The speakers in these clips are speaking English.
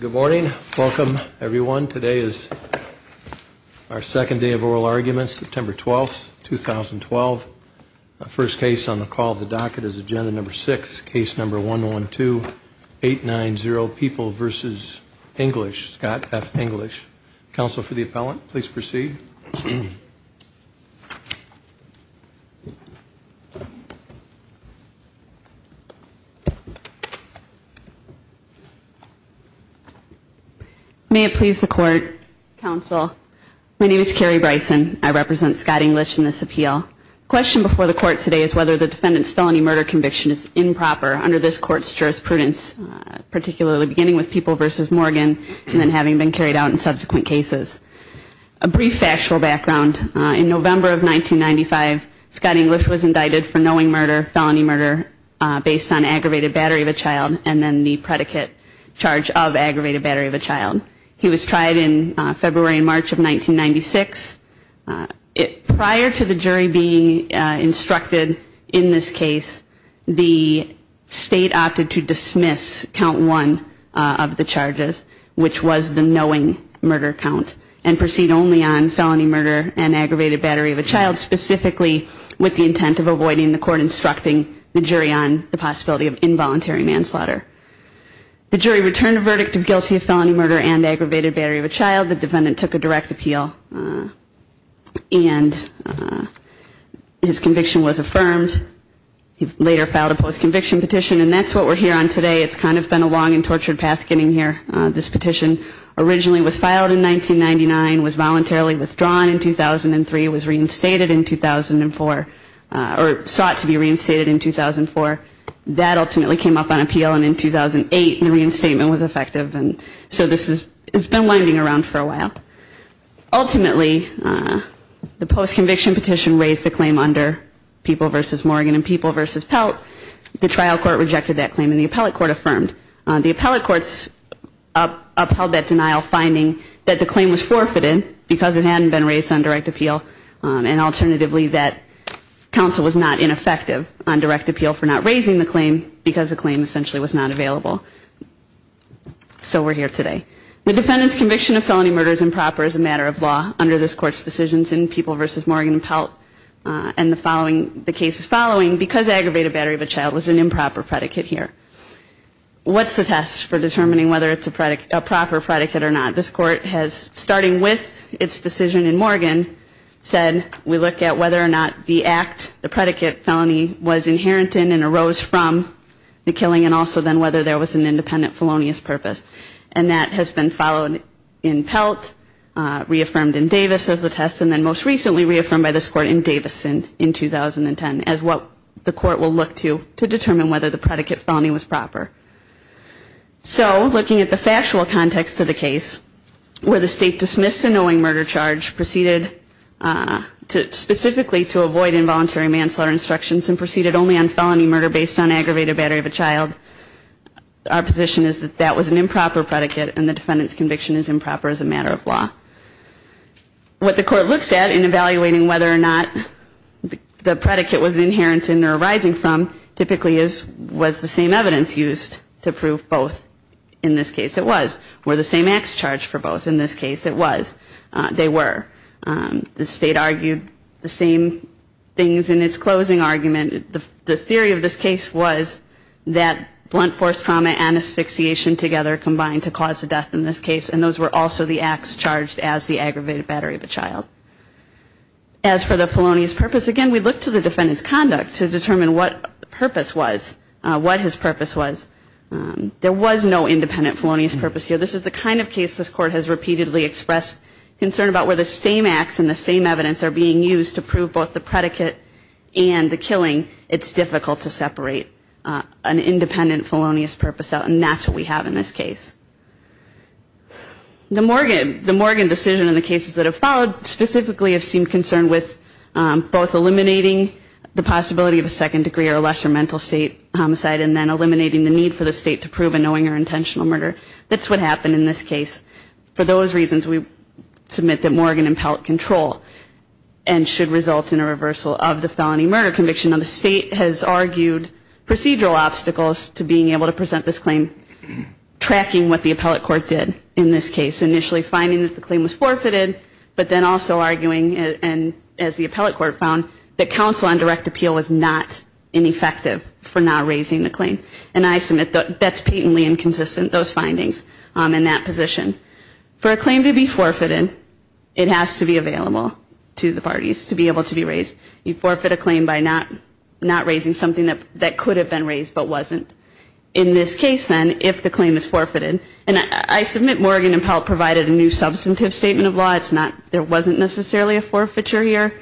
Good morning. Welcome everyone. Today is our second day of oral arguments, September 12, 2012. First case on the call of the docket is agenda number 6, case number 112-890, People v. English, Scott F. English. Counsel for the appellant, please proceed. May it please the court, counsel. My name is Carrie Bryson. I represent Scott English in this appeal. The question before the court today is whether the defendant's felony murder conviction is improper under this court's jurisprudence, particularly beginning with People v. Morgan and then having been carried out in subsequent cases. A brief factual background. In November of 1995, Scott English was indicted for knowing murder, felony murder, based on aggravated battery of a child and then the predicate charge of aggravated battery of a child. He was tried in February and March of 1996. Prior to the jury being instructed in this case, the state opted to dismiss count one of the charges, which was the knowing murder count, and proceed only on felony murder and aggravated battery of a child, specifically with the intent of avoiding the court instructing the jury on the possibility of involuntary manslaughter. The jury returned a verdict of guilty of felony murder and aggravated battery of a child. The defendant took a direct appeal, and his conviction was affirmed. He later filed a post-conviction petition, and that's what we're here on today. It's kind of been a long and tortured path getting here. This petition originally was filed in 1999, was voluntarily withdrawn in 2003, was reinstated in 2004, or sought to be reinstated in 2004. That ultimately came up on appeal, and in 2008, the reinstatement was effective. And so this has been winding around for a while. Ultimately, the post-conviction petition raised a claim under People v. Morgan and People v. Pelt. The trial court rejected that claim, and the appellate court affirmed. The appellate courts upheld that denial, finding that the claim was forfeited because it hadn't been raised on direct appeal, and alternatively that counsel was not ineffective on direct appeal for not raising the claim because the claim essentially was not available. So we're here today. The defendant's conviction of felony murder is improper as a matter of law under this court's decisions in People v. Morgan and Pelt, and the following, the case is following because aggravated battery of a child was an improper predicate here. What's the test for determining whether it's a proper predicate or not? This court has, starting with its decision in Morgan, said we look at whether or not the act, the predicate felony was inherent in and arose from the killing, and also then whether there was an independent felonious purpose. And that has been followed in Pelt, reaffirmed in Davis as the test, and then most recently reaffirmed by this court in Davis in 2010 as what the court will look to to determine whether the predicate felony was proper. So looking at the factual context of the case, where the state dismissed a knowing murder charge, proceeded specifically to avoid involuntary manslaughter instructions, and proceeded only on felony murder based on aggravated battery of a child, our position is that that was an improper predicate and the defendant's conviction is improper as a matter of law. What the court looks at in evaluating whether or not the predicate was inherent in or arising from typically was the same evidence used to prove both. In this case it was. Were the same acts charged for both? In this case it was. They were. The state argued the same things in its closing argument. The theory of this case was that blunt force trauma and asphyxiation together combined to cause the death in this case, As for the felonious purpose, again we look to the defendant's conduct to determine what purpose was, what his purpose was. There was no independent felonious purpose here. This is the kind of case this court has repeatedly expressed concern about where the same acts and the same evidence are being used to prove both the predicate and the killing. It's difficult to separate an independent felonious purpose out, and that's what we have in this case. The Morgan decision and the cases that have followed specifically have seemed concerned with both eliminating the possibility of a second degree or lesser mental state homicide and then eliminating the need for the state to prove a knowing or intentional murder. That's what happened in this case. For those reasons we submit that Morgan impelled control and should result in a reversal of the felony murder conviction. Now the state has argued procedural obstacles to being able to present this claim, tracking what the appellate court did in this case. Initially finding that the claim was forfeited, but then also arguing, as the appellate court found, that counsel on direct appeal was not ineffective for not raising the claim. And I submit that's patently inconsistent, those findings in that position. For a claim to be forfeited, it has to be available to the parties to be able to be raised. You forfeit a claim by not raising something that could have been raised but wasn't. In this case then, if the claim is forfeited, and I submit Morgan impelled provided a new substantive statement of law. There wasn't necessarily a forfeiture here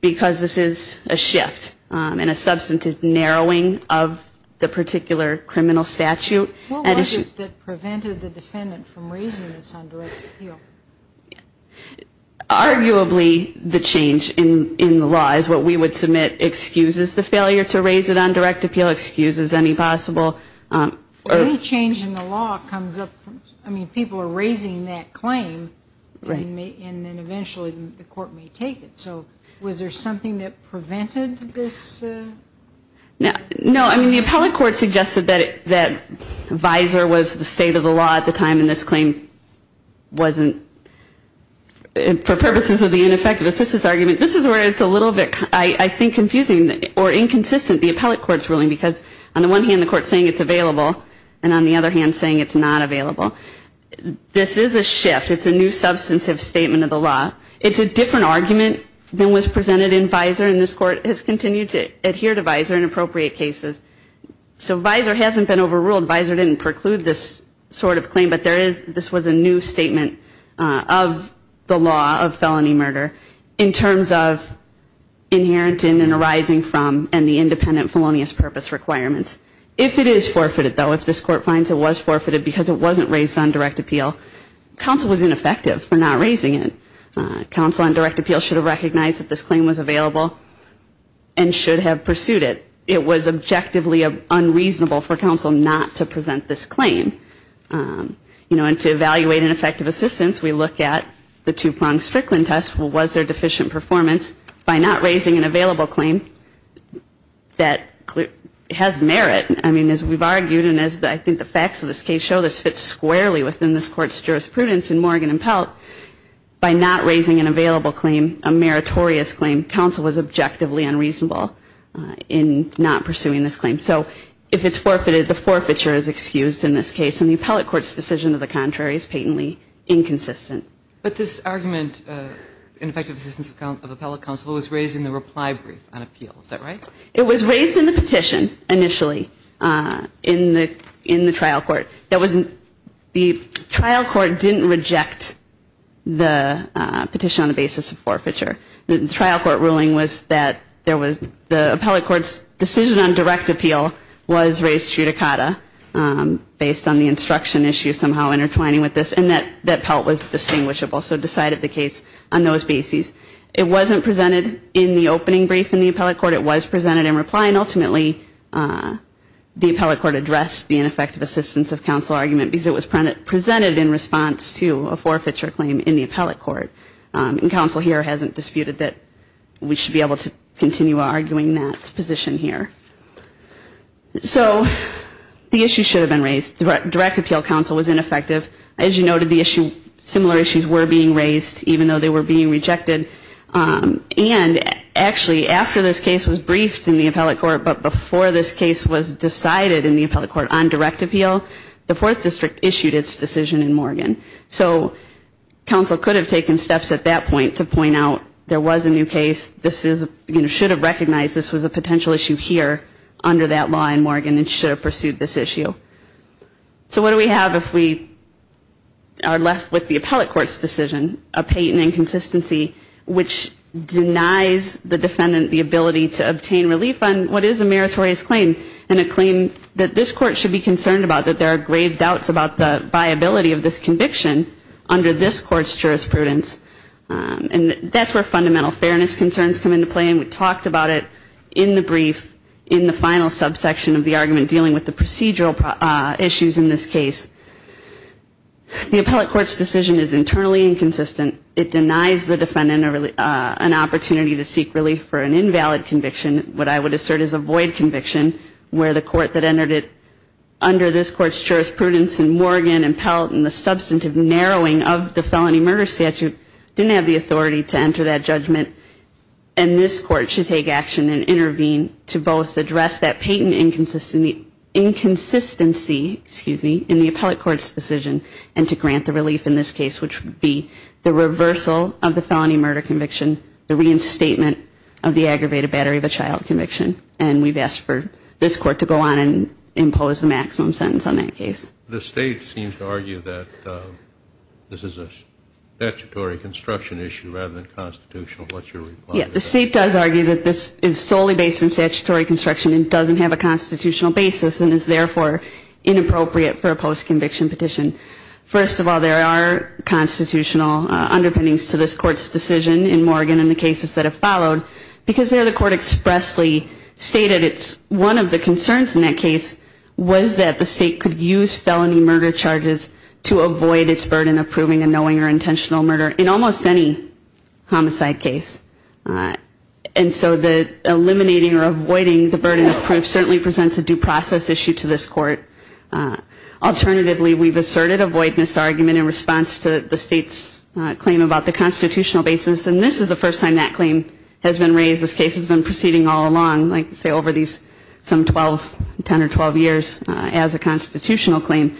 because this is a shift and a substantive narrowing of the particular criminal statute. What was it that prevented the defendant from raising this on direct appeal? Arguably the change in the law is what we would submit excuses the failure to raise it on direct appeal, excuse as any possible. Any change in the law comes up from, I mean, people are raising that claim. Right. And then eventually the court may take it. So was there something that prevented this? No, I mean, the appellate court suggested that visor was the state of the law at the time and this claim wasn't, for purposes of the ineffective assistance argument, this is where it's a little bit, I think, confusing or inconsistent, the appellate court's ruling because on the one hand the court's saying it's available and on the other hand saying it's not available. This is a shift. It's a new substantive statement of the law. It's a different argument than was presented in visor and this court has continued to adhere to visor in appropriate cases. So visor hasn't been overruled. Visor didn't preclude this sort of claim, but this was a new statement of the law of felony murder in terms of inherent in arising from and the independent felonious purpose requirements. If it is forfeited, though, if this court finds it was forfeited because it wasn't raised on direct appeal, counsel was ineffective for not raising it. Counsel on direct appeal should have recognized that this claim was available and should have pursued it. It was objectively unreasonable for counsel not to present this claim. You know, and to evaluate an effective assistance, we look at the two-pronged Strickland test. Was there deficient performance? By not raising an available claim, that has merit. I mean, as we've argued and as I think the facts of this case show, this fits squarely within this court's jurisprudence in Morgan and Pelt. By not raising an available claim, a meritorious claim, counsel was objectively unreasonable in not pursuing this claim. So if it's forfeited, the forfeiture is excused in this case and the appellate court's decision to the contrary is patently inconsistent. But this argument, ineffective assistance of appellate counsel, was raised in the reply brief on appeal. Is that right? It was raised in the petition initially in the trial court. The trial court didn't reject the petition on the basis of forfeiture. The trial court ruling was that the appellate court's decision on direct appeal was raised judicata based on the instruction issue somehow intertwining with this and that Pelt was distinguishable, so decided the case on those bases. It wasn't presented in the opening brief in the appellate court. It was presented in reply, and ultimately the appellate court addressed the ineffective assistance of counsel argument because it was presented in response to a forfeiture claim in the appellate court. And counsel here hasn't disputed that we should be able to continue arguing that position here. So the issue should have been raised. Direct appeal counsel was ineffective. As you noted, similar issues were being raised even though they were being rejected. And actually after this case was briefed in the appellate court but before this case was decided in the appellate court on direct appeal, the 4th District issued its decision in Morgan. So counsel could have taken steps at that point to point out there was a new case. This should have recognized this was a potential issue here under that law in Morgan and should have pursued this issue. So what do we have if we are left with the appellate court's decision, a patent inconsistency which denies the defendant the ability to obtain relief on what is a meritorious claim and a claim that this court should be concerned about, that there are grave doubts about the viability of this conviction under this court's jurisprudence. And that's where fundamental fairness concerns come into play, and we talked about it in the brief in the final subsection of the argument dealing with the procedural issues in this case. The appellate court's decision is internally inconsistent. It denies the defendant an opportunity to seek relief for an invalid conviction, what I would assert is a void conviction, where the court that entered it under this court's jurisprudence in Morgan and Pelt and the substantive narrowing of the felony murder statute didn't have the authority to enter that judgment. And this court should take action and intervene to both address that patent inconsistency in the appellate court's decision and to grant the relief in this case, which would be the reversal of the felony murder conviction, the reinstatement of the aggravated battery of a child conviction. And we've asked for this court to go on and impose the maximum sentence on that case. The State seems to argue that this is a statutory construction issue rather than constitutional, what's your reply to that? Yeah, the State does argue that this is solely based on statutory construction and doesn't have a constitutional basis and is therefore inappropriate for a post-conviction petition. First of all, there are constitutional underpinnings to this court's decision in Morgan and the cases that have followed because there the court expressly stated it's one of the concerns in that case was that the State could use felony murder charges to avoid its burden of proving a knowing or intentional murder in almost any homicide case. And so the eliminating or avoiding the burden of proof certainly presents a due process issue to this court. Alternatively, we've asserted a voidness argument in response to the State's claim about the constitutional basis, and this is the first time that claim has been raised. This case has been proceeding all along, like say over these some 12, 10 or 12 years as a constitutional claim.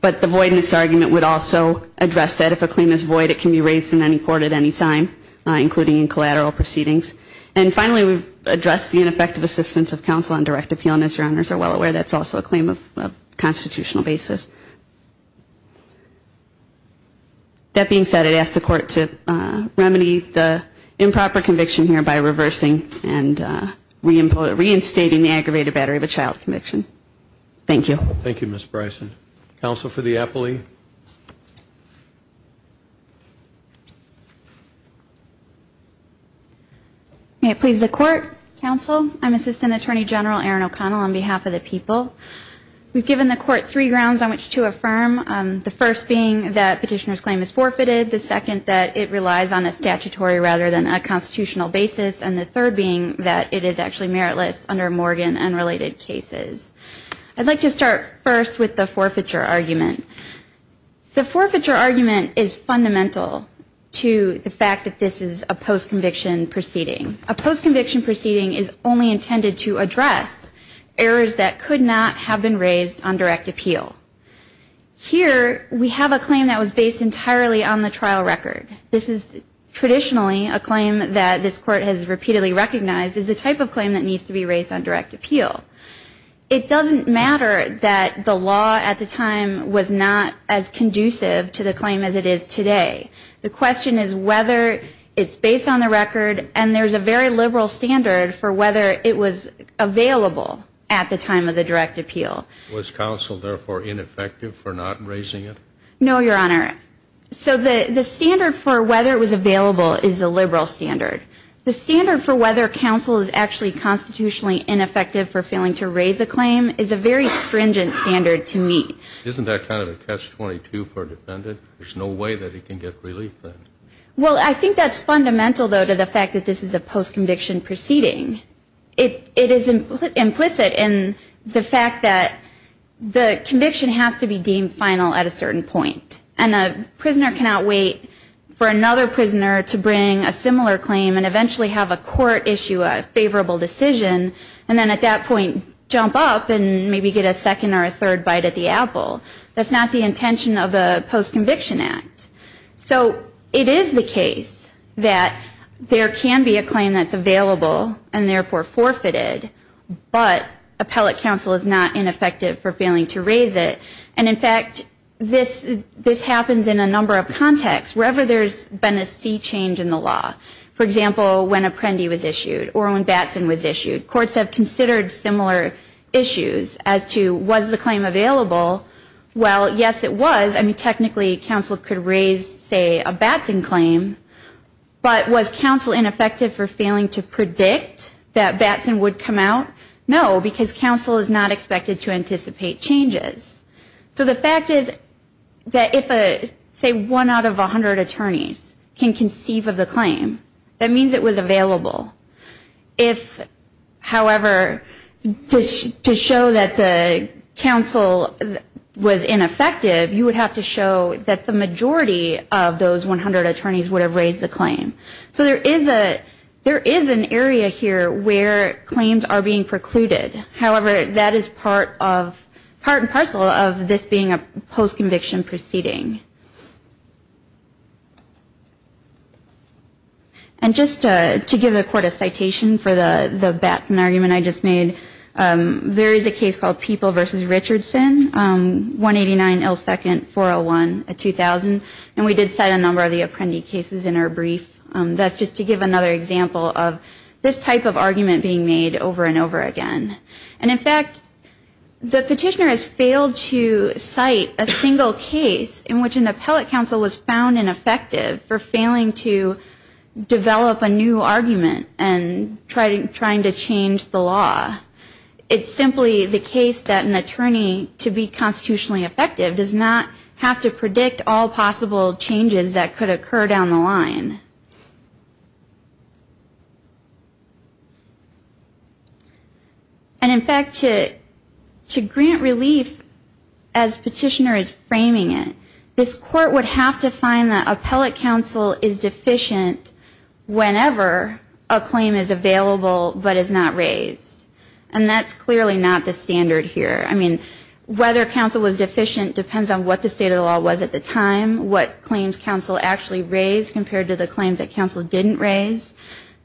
But the voidness argument would also address that. If a claim is void, it can be raised in any court at any time, including in collateral proceedings. And finally, we've addressed the ineffective assistance of counsel on direct appeal, and as your honors are well aware, that's also a claim of constitutional basis. That being said, I'd ask the court to remedy the improper conviction here by reversing and reinstating the aggravated battery of a child conviction. Thank you. Thank you, Ms. Bryson. Counsel for the appellee. May it please the court. Counsel, I'm Assistant Attorney General Erin O'Connell on behalf of the people. We've given the court three grounds on which to affirm, the first being that petitioner's claim is forfeited, the second that it relies on a statutory rather than a constitutional basis, and the third being that it is actually meritless under Morgan and related cases. I'd like to start first with the forfeiture argument. The forfeiture argument is fundamental to the fact that this is a post-conviction proceeding. A post-conviction proceeding is only intended to address errors that could not have been raised on direct appeal. Here we have a claim that was based entirely on the trial record. This is traditionally a claim that this court has repeatedly recognized as a type of claim that needs to be raised on direct appeal. It doesn't matter that the law at the time was not as conducive to the claim as it is today. The question is whether it's based on the record, and there's a very liberal standard for whether it was available at the time of the direct appeal. Was counsel, therefore, ineffective for not raising it? No, Your Honor. So the standard for whether it was available is a liberal standard. The standard for whether counsel is actually constitutionally ineffective for failing to raise a claim is a very stringent standard to meet. Isn't that kind of a catch-22 for a defendant? There's no way that he can get relief then. Well, I think that's fundamental, though, to the fact that this is a post-conviction proceeding. It is implicit in the fact that the conviction has to be deemed final at a certain point, and a prisoner cannot wait for another prisoner to bring a similar claim and eventually have a court issue a favorable decision and then at that point jump up and maybe get a second or a third bite at the apple. That's not the intention of the post-conviction act. So it is the case that there can be a claim that's available and therefore forfeited, but appellate counsel is not ineffective for failing to raise it. And, in fact, this happens in a number of contexts, wherever there's been a sea change in the law. For example, when Apprendi was issued or when Batson was issued. Courts have considered similar issues as to was the claim available? Well, yes, it was. I mean, technically, counsel could raise, say, a Batson claim, but was counsel ineffective for failing to predict that Batson would come out? No, because counsel is not expected to anticipate changes. So the fact is that if, say, one out of 100 attorneys can conceive of the claim, that means it was available. If, however, to show that the counsel was ineffective, you would have to show that the majority of those 100 attorneys would have raised the claim. So there is an area here where claims are being precluded. However, that is part and parcel of this being a post-conviction proceeding. And just to give the Court a citation for the Batson argument I just made, there is a case called People v. Richardson, 189L2-401-2000, and we did cite a number of the Apprendi cases in our brief. That's just to give another example of this type of argument being made over and over again. And, in fact, the petitioner has failed to cite a single case in which an appellate counsel was found ineffective for failing to develop a new argument and trying to change the law. It's simply the case that an attorney, to be constitutionally effective, does not have to predict all possible changes that could occur down the line. And, in fact, to grant relief as petitioner is framing it, this Court would have to find that appellate counsel is deficient whenever a claim is available but is not raised. And that's clearly not the standard here. I mean, whether counsel was deficient depends on what the state of the law was at the time, what claims counsel actually raised compared to the claims that counsel didn't raise.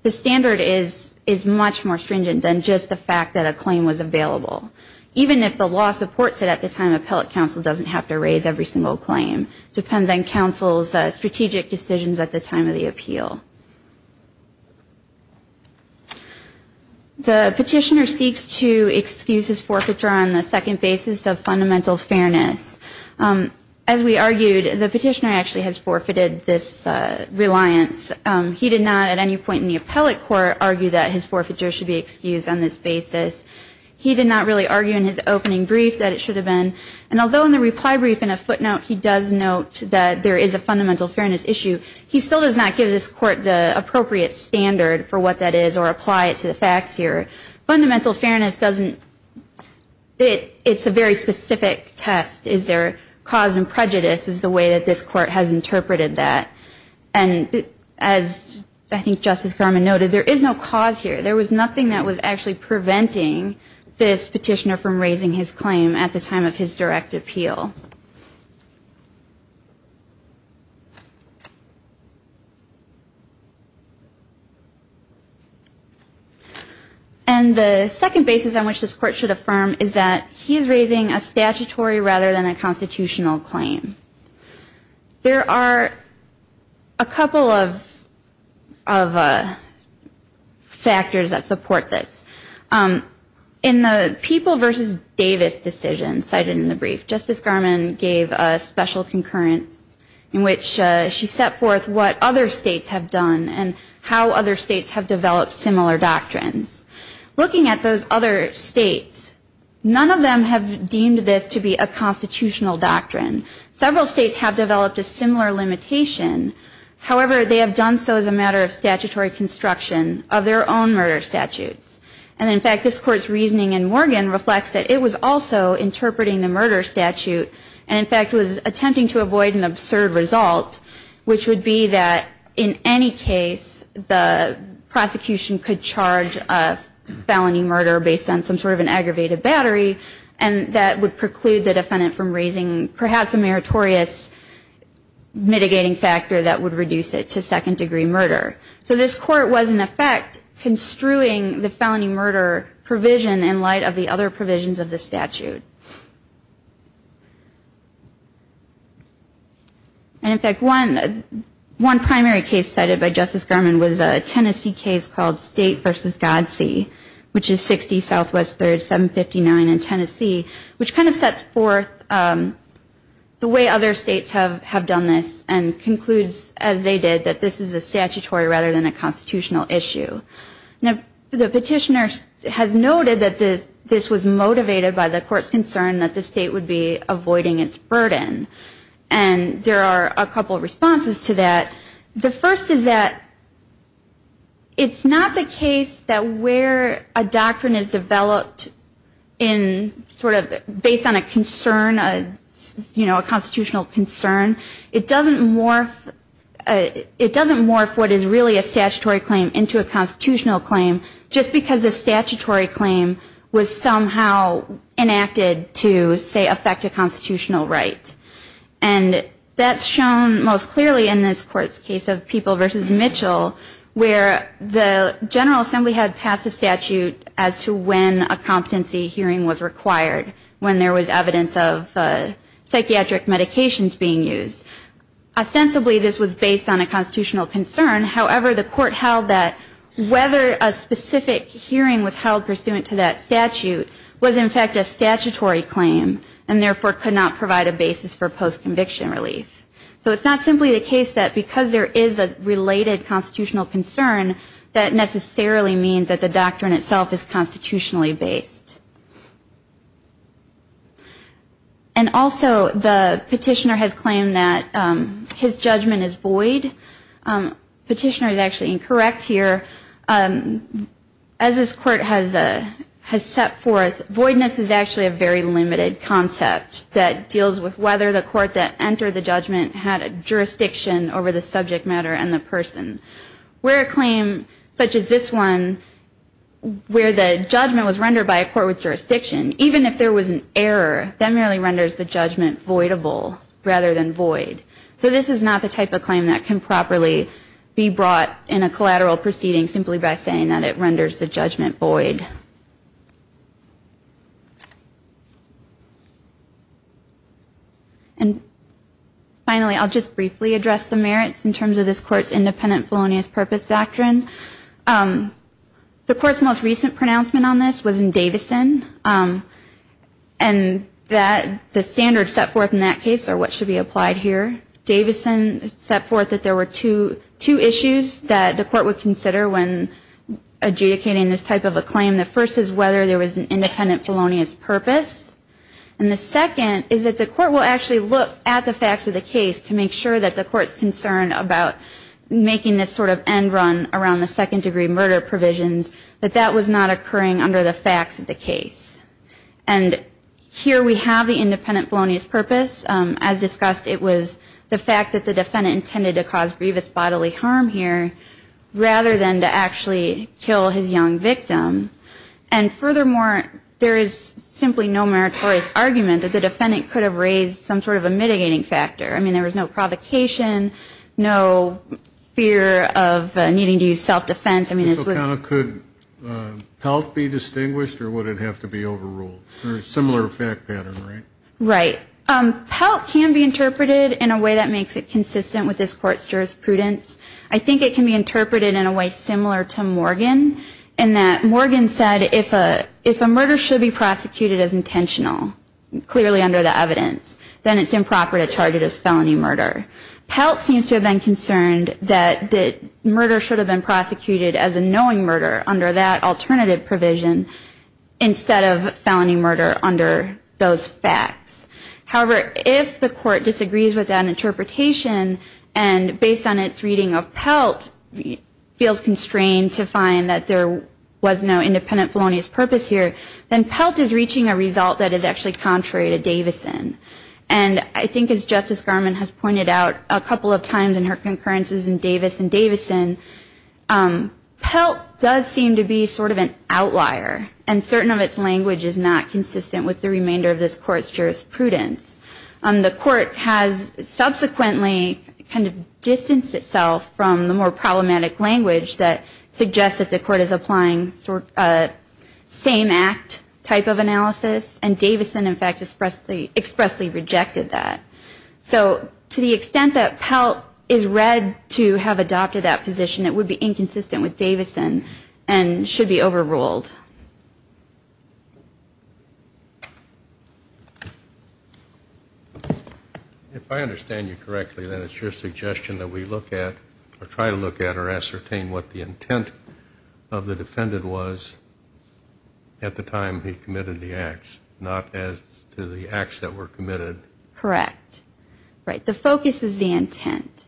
The standard is much more stringent than just the fact that a claim was available. Even if the law supports it at the time, appellate counsel doesn't have to raise every single claim. It depends on counsel's strategic decisions at the time of the appeal. The petitioner seeks to excuse his forfeiture on the second basis of fundamental fairness. As we argued, the petitioner actually has forfeited this reliance. He did not at any point in the appellate court argue that his forfeiture should be excused on this basis. He did not really argue in his opening brief that it should have been. And although in the reply brief in a footnote he does note that there is a fundamental fairness issue, he still does not give this court the appropriate standard for what that is or apply it to the facts here. Fundamental fairness doesn't – it's a very specific test. Is there cause and prejudice is the way that this court has interpreted that. And as I think Justice Garmon noted, there is no cause here. There was nothing that was actually preventing this petitioner from raising his claim at the time of his direct appeal. And the second basis on which this court should affirm is that he is raising a statutory rather than a constitutional claim. There are a couple of factors that support this. In the People v. Davis decision cited in the brief, Justice Garmon gave a special concurrence in which she set forth what other states have done and how other states have developed similar doctrines. Looking at those other states, none of them have deemed this to be a constitutional doctrine. Several states have developed a similar limitation. However, they have done so as a matter of statutory construction of their own murder statutes. And in fact, this court's reasoning in Morgan reflects that it was also interpreting the murder statute and in fact was attempting to avoid an absurd result, which would be that in any case, the prosecution could charge a felony murder based on some sort of an aggravated battery and that would preclude the defendant from raising perhaps a meritorious mitigating factor that would reduce it to second degree murder. So this court was in effect construing the felony murder provision in light of the other provisions of the statute. And in fact, one primary case cited by Justice Garmon was a Tennessee case called State v. Godsey, which is 60 SW 3rd, 759 in Tennessee, which kind of sets forth the way other states have done this and concludes as they did that this is a statutory rather than a constitutional issue. Now, the petitioner has noted that this was motivated by the court's concern that the state would be avoiding its burden. And there are a couple of responses to that. The first is that it's not the case that where a doctrine is developed in sort of based on a concern, you know, a constitutional concern, it doesn't morph what is really a statutory claim into a constitutional claim just because a statutory claim was somehow enacted to say affect a constitutional right. And that's shown most clearly in this court's case of People v. Mitchell where the General Assembly had passed a statute as to when a competency hearing was required when there was evidence of psychiatric medications being used. Ostensibly this was based on a constitutional concern. However, the court held that whether a specific hearing was held pursuant to that statute was in fact a statutory claim and therefore could not provide a basis for post-conviction relief. So it's not simply the case that because there is a related constitutional concern that necessarily means that the doctrine itself is constitutionally based. And also the petitioner has claimed that his judgment is void. Petitioner is actually incorrect here. As this court has set forth, voidness is actually a very limited concept that deals with whether the court that entered the judgment had a jurisdiction over the subject matter and the person. Where a claim such as this one where the judgment was rendered by a court with jurisdiction, even if there was an error, that merely renders the judgment voidable rather than void. So this is not the type of claim that can properly be brought in a collateral proceeding simply by saying that it renders the judgment void. And finally, I'll just briefly address the merits in terms of this court's independent felonious purpose doctrine. The court's most recent pronouncement on this was in Davison. And the standards set forth in that case are what should be applied here. Davison set forth that there were two issues that the court would consider when adjudicating this type of a claim. The first is whether there was an independent felonious purpose. And the second is that the court will actually look at the facts of the case to make sure that the court's concerned about making this sort of end run around the second degree murder provisions, that that was not occurring under the facts of the case. And here we have the independent felonious purpose. As discussed, it was the fact that the defendant intended to cause grievous bodily harm here rather than to actually kill his young victim. And furthermore, there is simply no meritorious argument that the defendant could have raised some sort of a mitigating factor. I mean, there was no provocation, no fear of needing to use self-defense. Could Pelt be distinguished or would it have to be overruled? Or a similar fact pattern, right? Right. Pelt can be interpreted in a way that makes it consistent with this court's jurisprudence. I think it can be interpreted in a way similar to Morgan, in that Morgan said if a murder should be prosecuted as intentional, clearly under the evidence, then it's improper to charge it as felony murder. Pelt seems to have been concerned that murder should have been prosecuted as a knowing murder under that alternative provision, instead of felony murder under those facts. However, if the court disagrees with that interpretation, and based on its reading of Pelt, feels constrained to find that there was no independent felonious purpose here, then Pelt is reaching a result that is actually contrary to Davison. And I think as Justice Garmon has pointed out a couple of times in her concurrences in Davis and Davison, Pelt does seem to be sort of an outlier, and certain of its language is not consistent with the remainder of this court's jurisprudence. The court has subsequently kind of distanced itself from the more problematic language that suggests that the court is applying same-act type of analysis, and Davison in fact expressly rejected that. So to the extent that Pelt is read to have adopted that position, it would be inconsistent with Davison and should be overruled. If I understand you correctly, then it's your suggestion that we look at, or try to look at or ascertain what the intent of the defendant was at the time he committed the acts, not as to the acts that were committed? Correct. Right. The focus is the intent.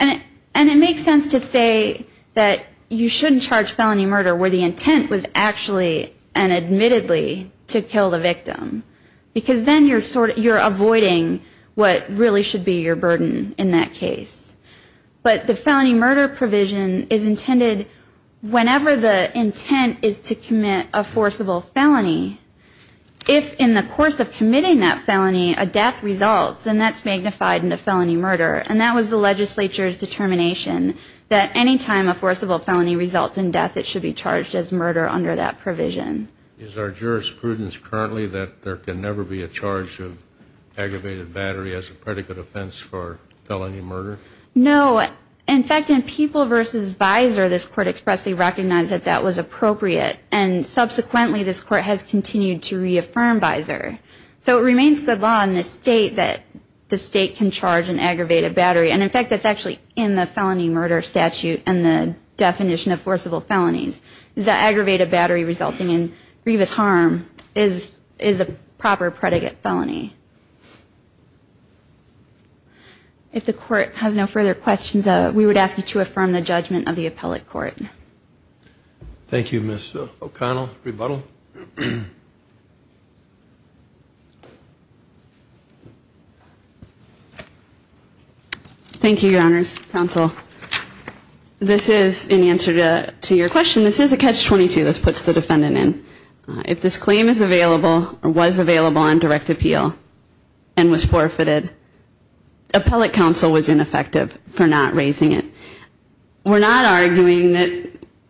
And it makes sense to say that you shouldn't charge felony murder where the intent was actually and admittedly to kill the victim, because then you're avoiding what really should be your burden in that case. But the felony murder provision is intended whenever the intent is to commit a forcible felony. If in the course of committing that felony a death results, then that's magnified into felony murder. And that was the legislature's determination, that any time a forcible felony results in death, it should be charged as murder under that provision. Is our jurisprudence currently that there can never be a charge of aggravated battery as a predicate offense for felony murder? No. In fact, in People v. Visor, this Court expressly recognized that that was appropriate. And subsequently, this Court has continued to reaffirm Visor. So it remains good law in this State that the State can charge an aggravated battery. And in fact, that's actually in the felony murder statute and the definition of forcible felonies. The aggravated battery resulting in grievous harm is a proper predicate felony. If the Court has no further questions, we would ask you to affirm the judgment of the appellate court. Thank you, Ms. O'Connell. Rebuttal. Thank you, Your Honors. Counsel, this is in answer to your question. This is a catch-22. This puts the defendant in. If this claim is available or was available on direct appeal and was forfeited, appellate counsel was ineffective for not raising it. We're not arguing that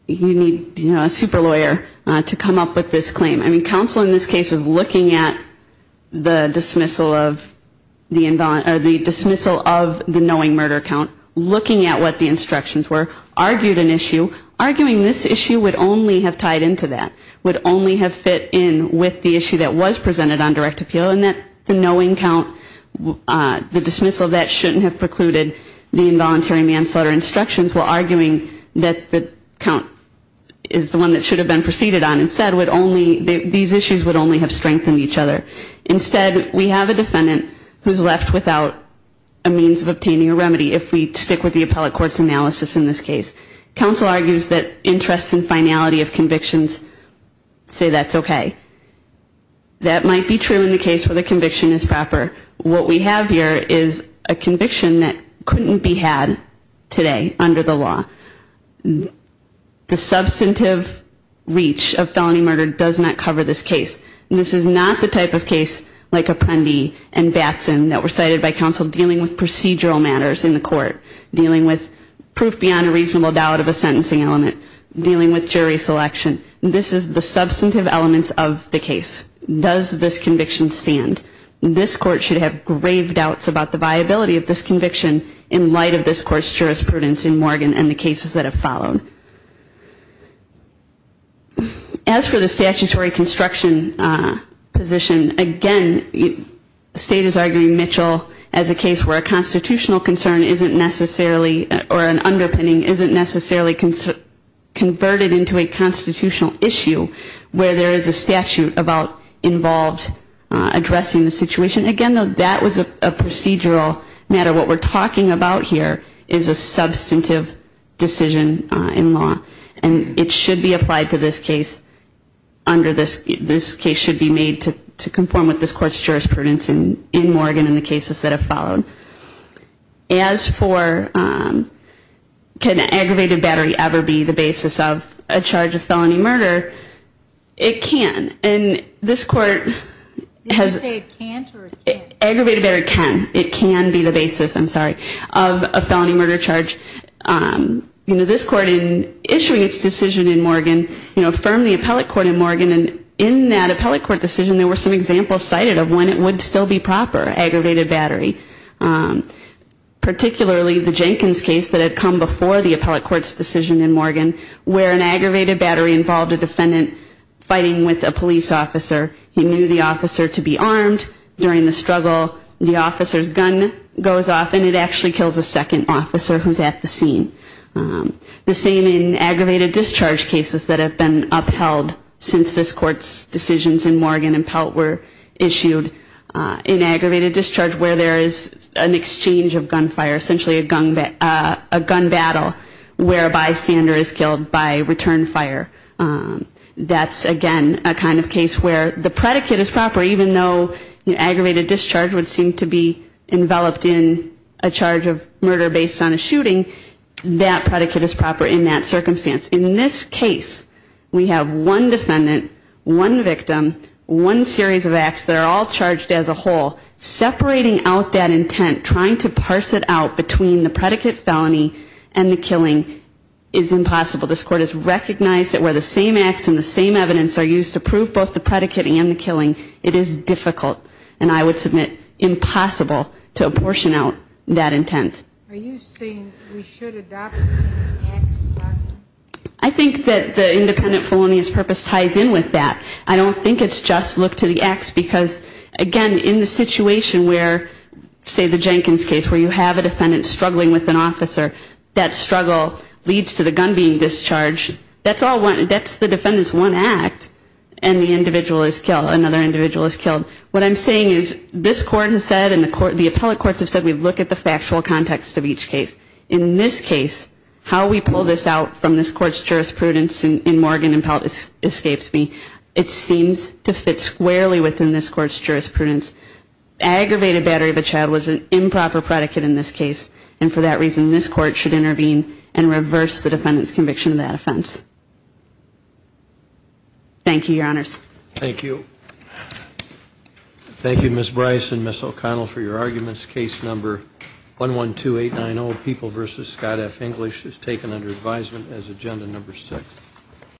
you need a super lawyer to come up with this claim. I mean, counsel in this case is looking at the dismissal of the knowing murder count, looking at what the instructions were, argued an issue, arguing this issue would only have tied into that, would only have fit in with the issue that was presented on direct appeal, and that the knowing count, the dismissal of that shouldn't have precluded the involuntary manslaughter instructions. We're arguing that the count is the one that should have been preceded on. Instead, these issues would only have strengthened each other. Instead, we have a defendant who's left without a means of obtaining a remedy if we stick with the appellate court's analysis in this case. Counsel argues that interests in finality of convictions say that's okay. That might be true in the case where the conviction is proper. What we have here is a conviction that couldn't be had today under the law. The substantive reach of felony murder does not cover this case. This is not the type of case like Apprendi and Batson that were cited by counsel dealing with procedural matters in the court, dealing with proof beyond a reasonable doubt of a sentencing element, dealing with jury selection. This is the substantive elements of the case. Does this conviction stand? This court should have grave doubts about the viability of this conviction in light of this court's jurisprudence in Morgan and the cases that have followed. As for the statutory construction position, again, the state is arguing Mitchell as a case where a constitutional concern isn't necessarily, or an underpinning isn't necessarily converted into a constitutional issue where there is a statute about involved addressing the situation. Again, that was a procedural matter. What we're talking about here is a substantive decision in law. And it should be applied to this case under this, this case should be made to conform with this court's jurisprudence in Morgan and the cases that have followed. As for can aggravated battery ever be the basis of a charge of felony murder, it can. And this court has ‑‑ Did you say it can't or it can't? Aggravated battery can. It can be the basis, I'm sorry, of a felony murder charge. You know, this court in issuing its decision in Morgan, you know, affirmed the appellate court in Morgan. And in that appellate court decision, there were some examples cited of when it would still be proper, aggravated battery. Particularly the Jenkins case that had come before the appellate court's decision in Morgan where an aggravated battery involved a defendant fighting with a police officer. He knew the officer to be armed. During the struggle, the officer's gun goes off and it actually kills a second officer who's at the scene. The same in aggravated discharge cases that have been upheld since this court's decisions in Morgan and Pelt were issued. In aggravated discharge where there is an exchange of gunfire, essentially a gun battle, whereby a stander is killed by return fire. That's, again, a kind of case where the predicate is proper, even though aggravated discharge would seem to be enveloped in a charge of murder based on a shooting. That predicate is proper in that circumstance. In this case, we have one defendant, one victim, one series of acts that are all charged as a whole. Separating out that intent, trying to parse it out between the predicate felony and the killing is impossible. This court has recognized that where the same acts and the same evidence are used to prove both the predicate and the killing, it is difficult. And I would submit impossible to apportion out that intent. Are you saying we should adopt the same acts? I think that the independent felonious purpose ties in with that. I don't think it's just look to the acts because, again, in the situation where, say the Jenkins case, where you have a defendant struggling with an officer, that struggle leads to the gun being discharged. That's the defendant's one act and the individual is killed, another individual is killed. What I'm saying is this court has said and the appellate courts have said we look at the factual context of each case. In this case, how we pull this out from this court's jurisprudence in Morgan and Pelt escapes me. It seems to fit squarely within this court's jurisprudence. Aggravated battery of a child was an improper predicate in this case and for that reason this court should intervene and reverse the defendant's conviction of that offense. Thank you, Your Honors. Thank you. Thank you, Ms. Bryce and Ms. O'Connell for your arguments.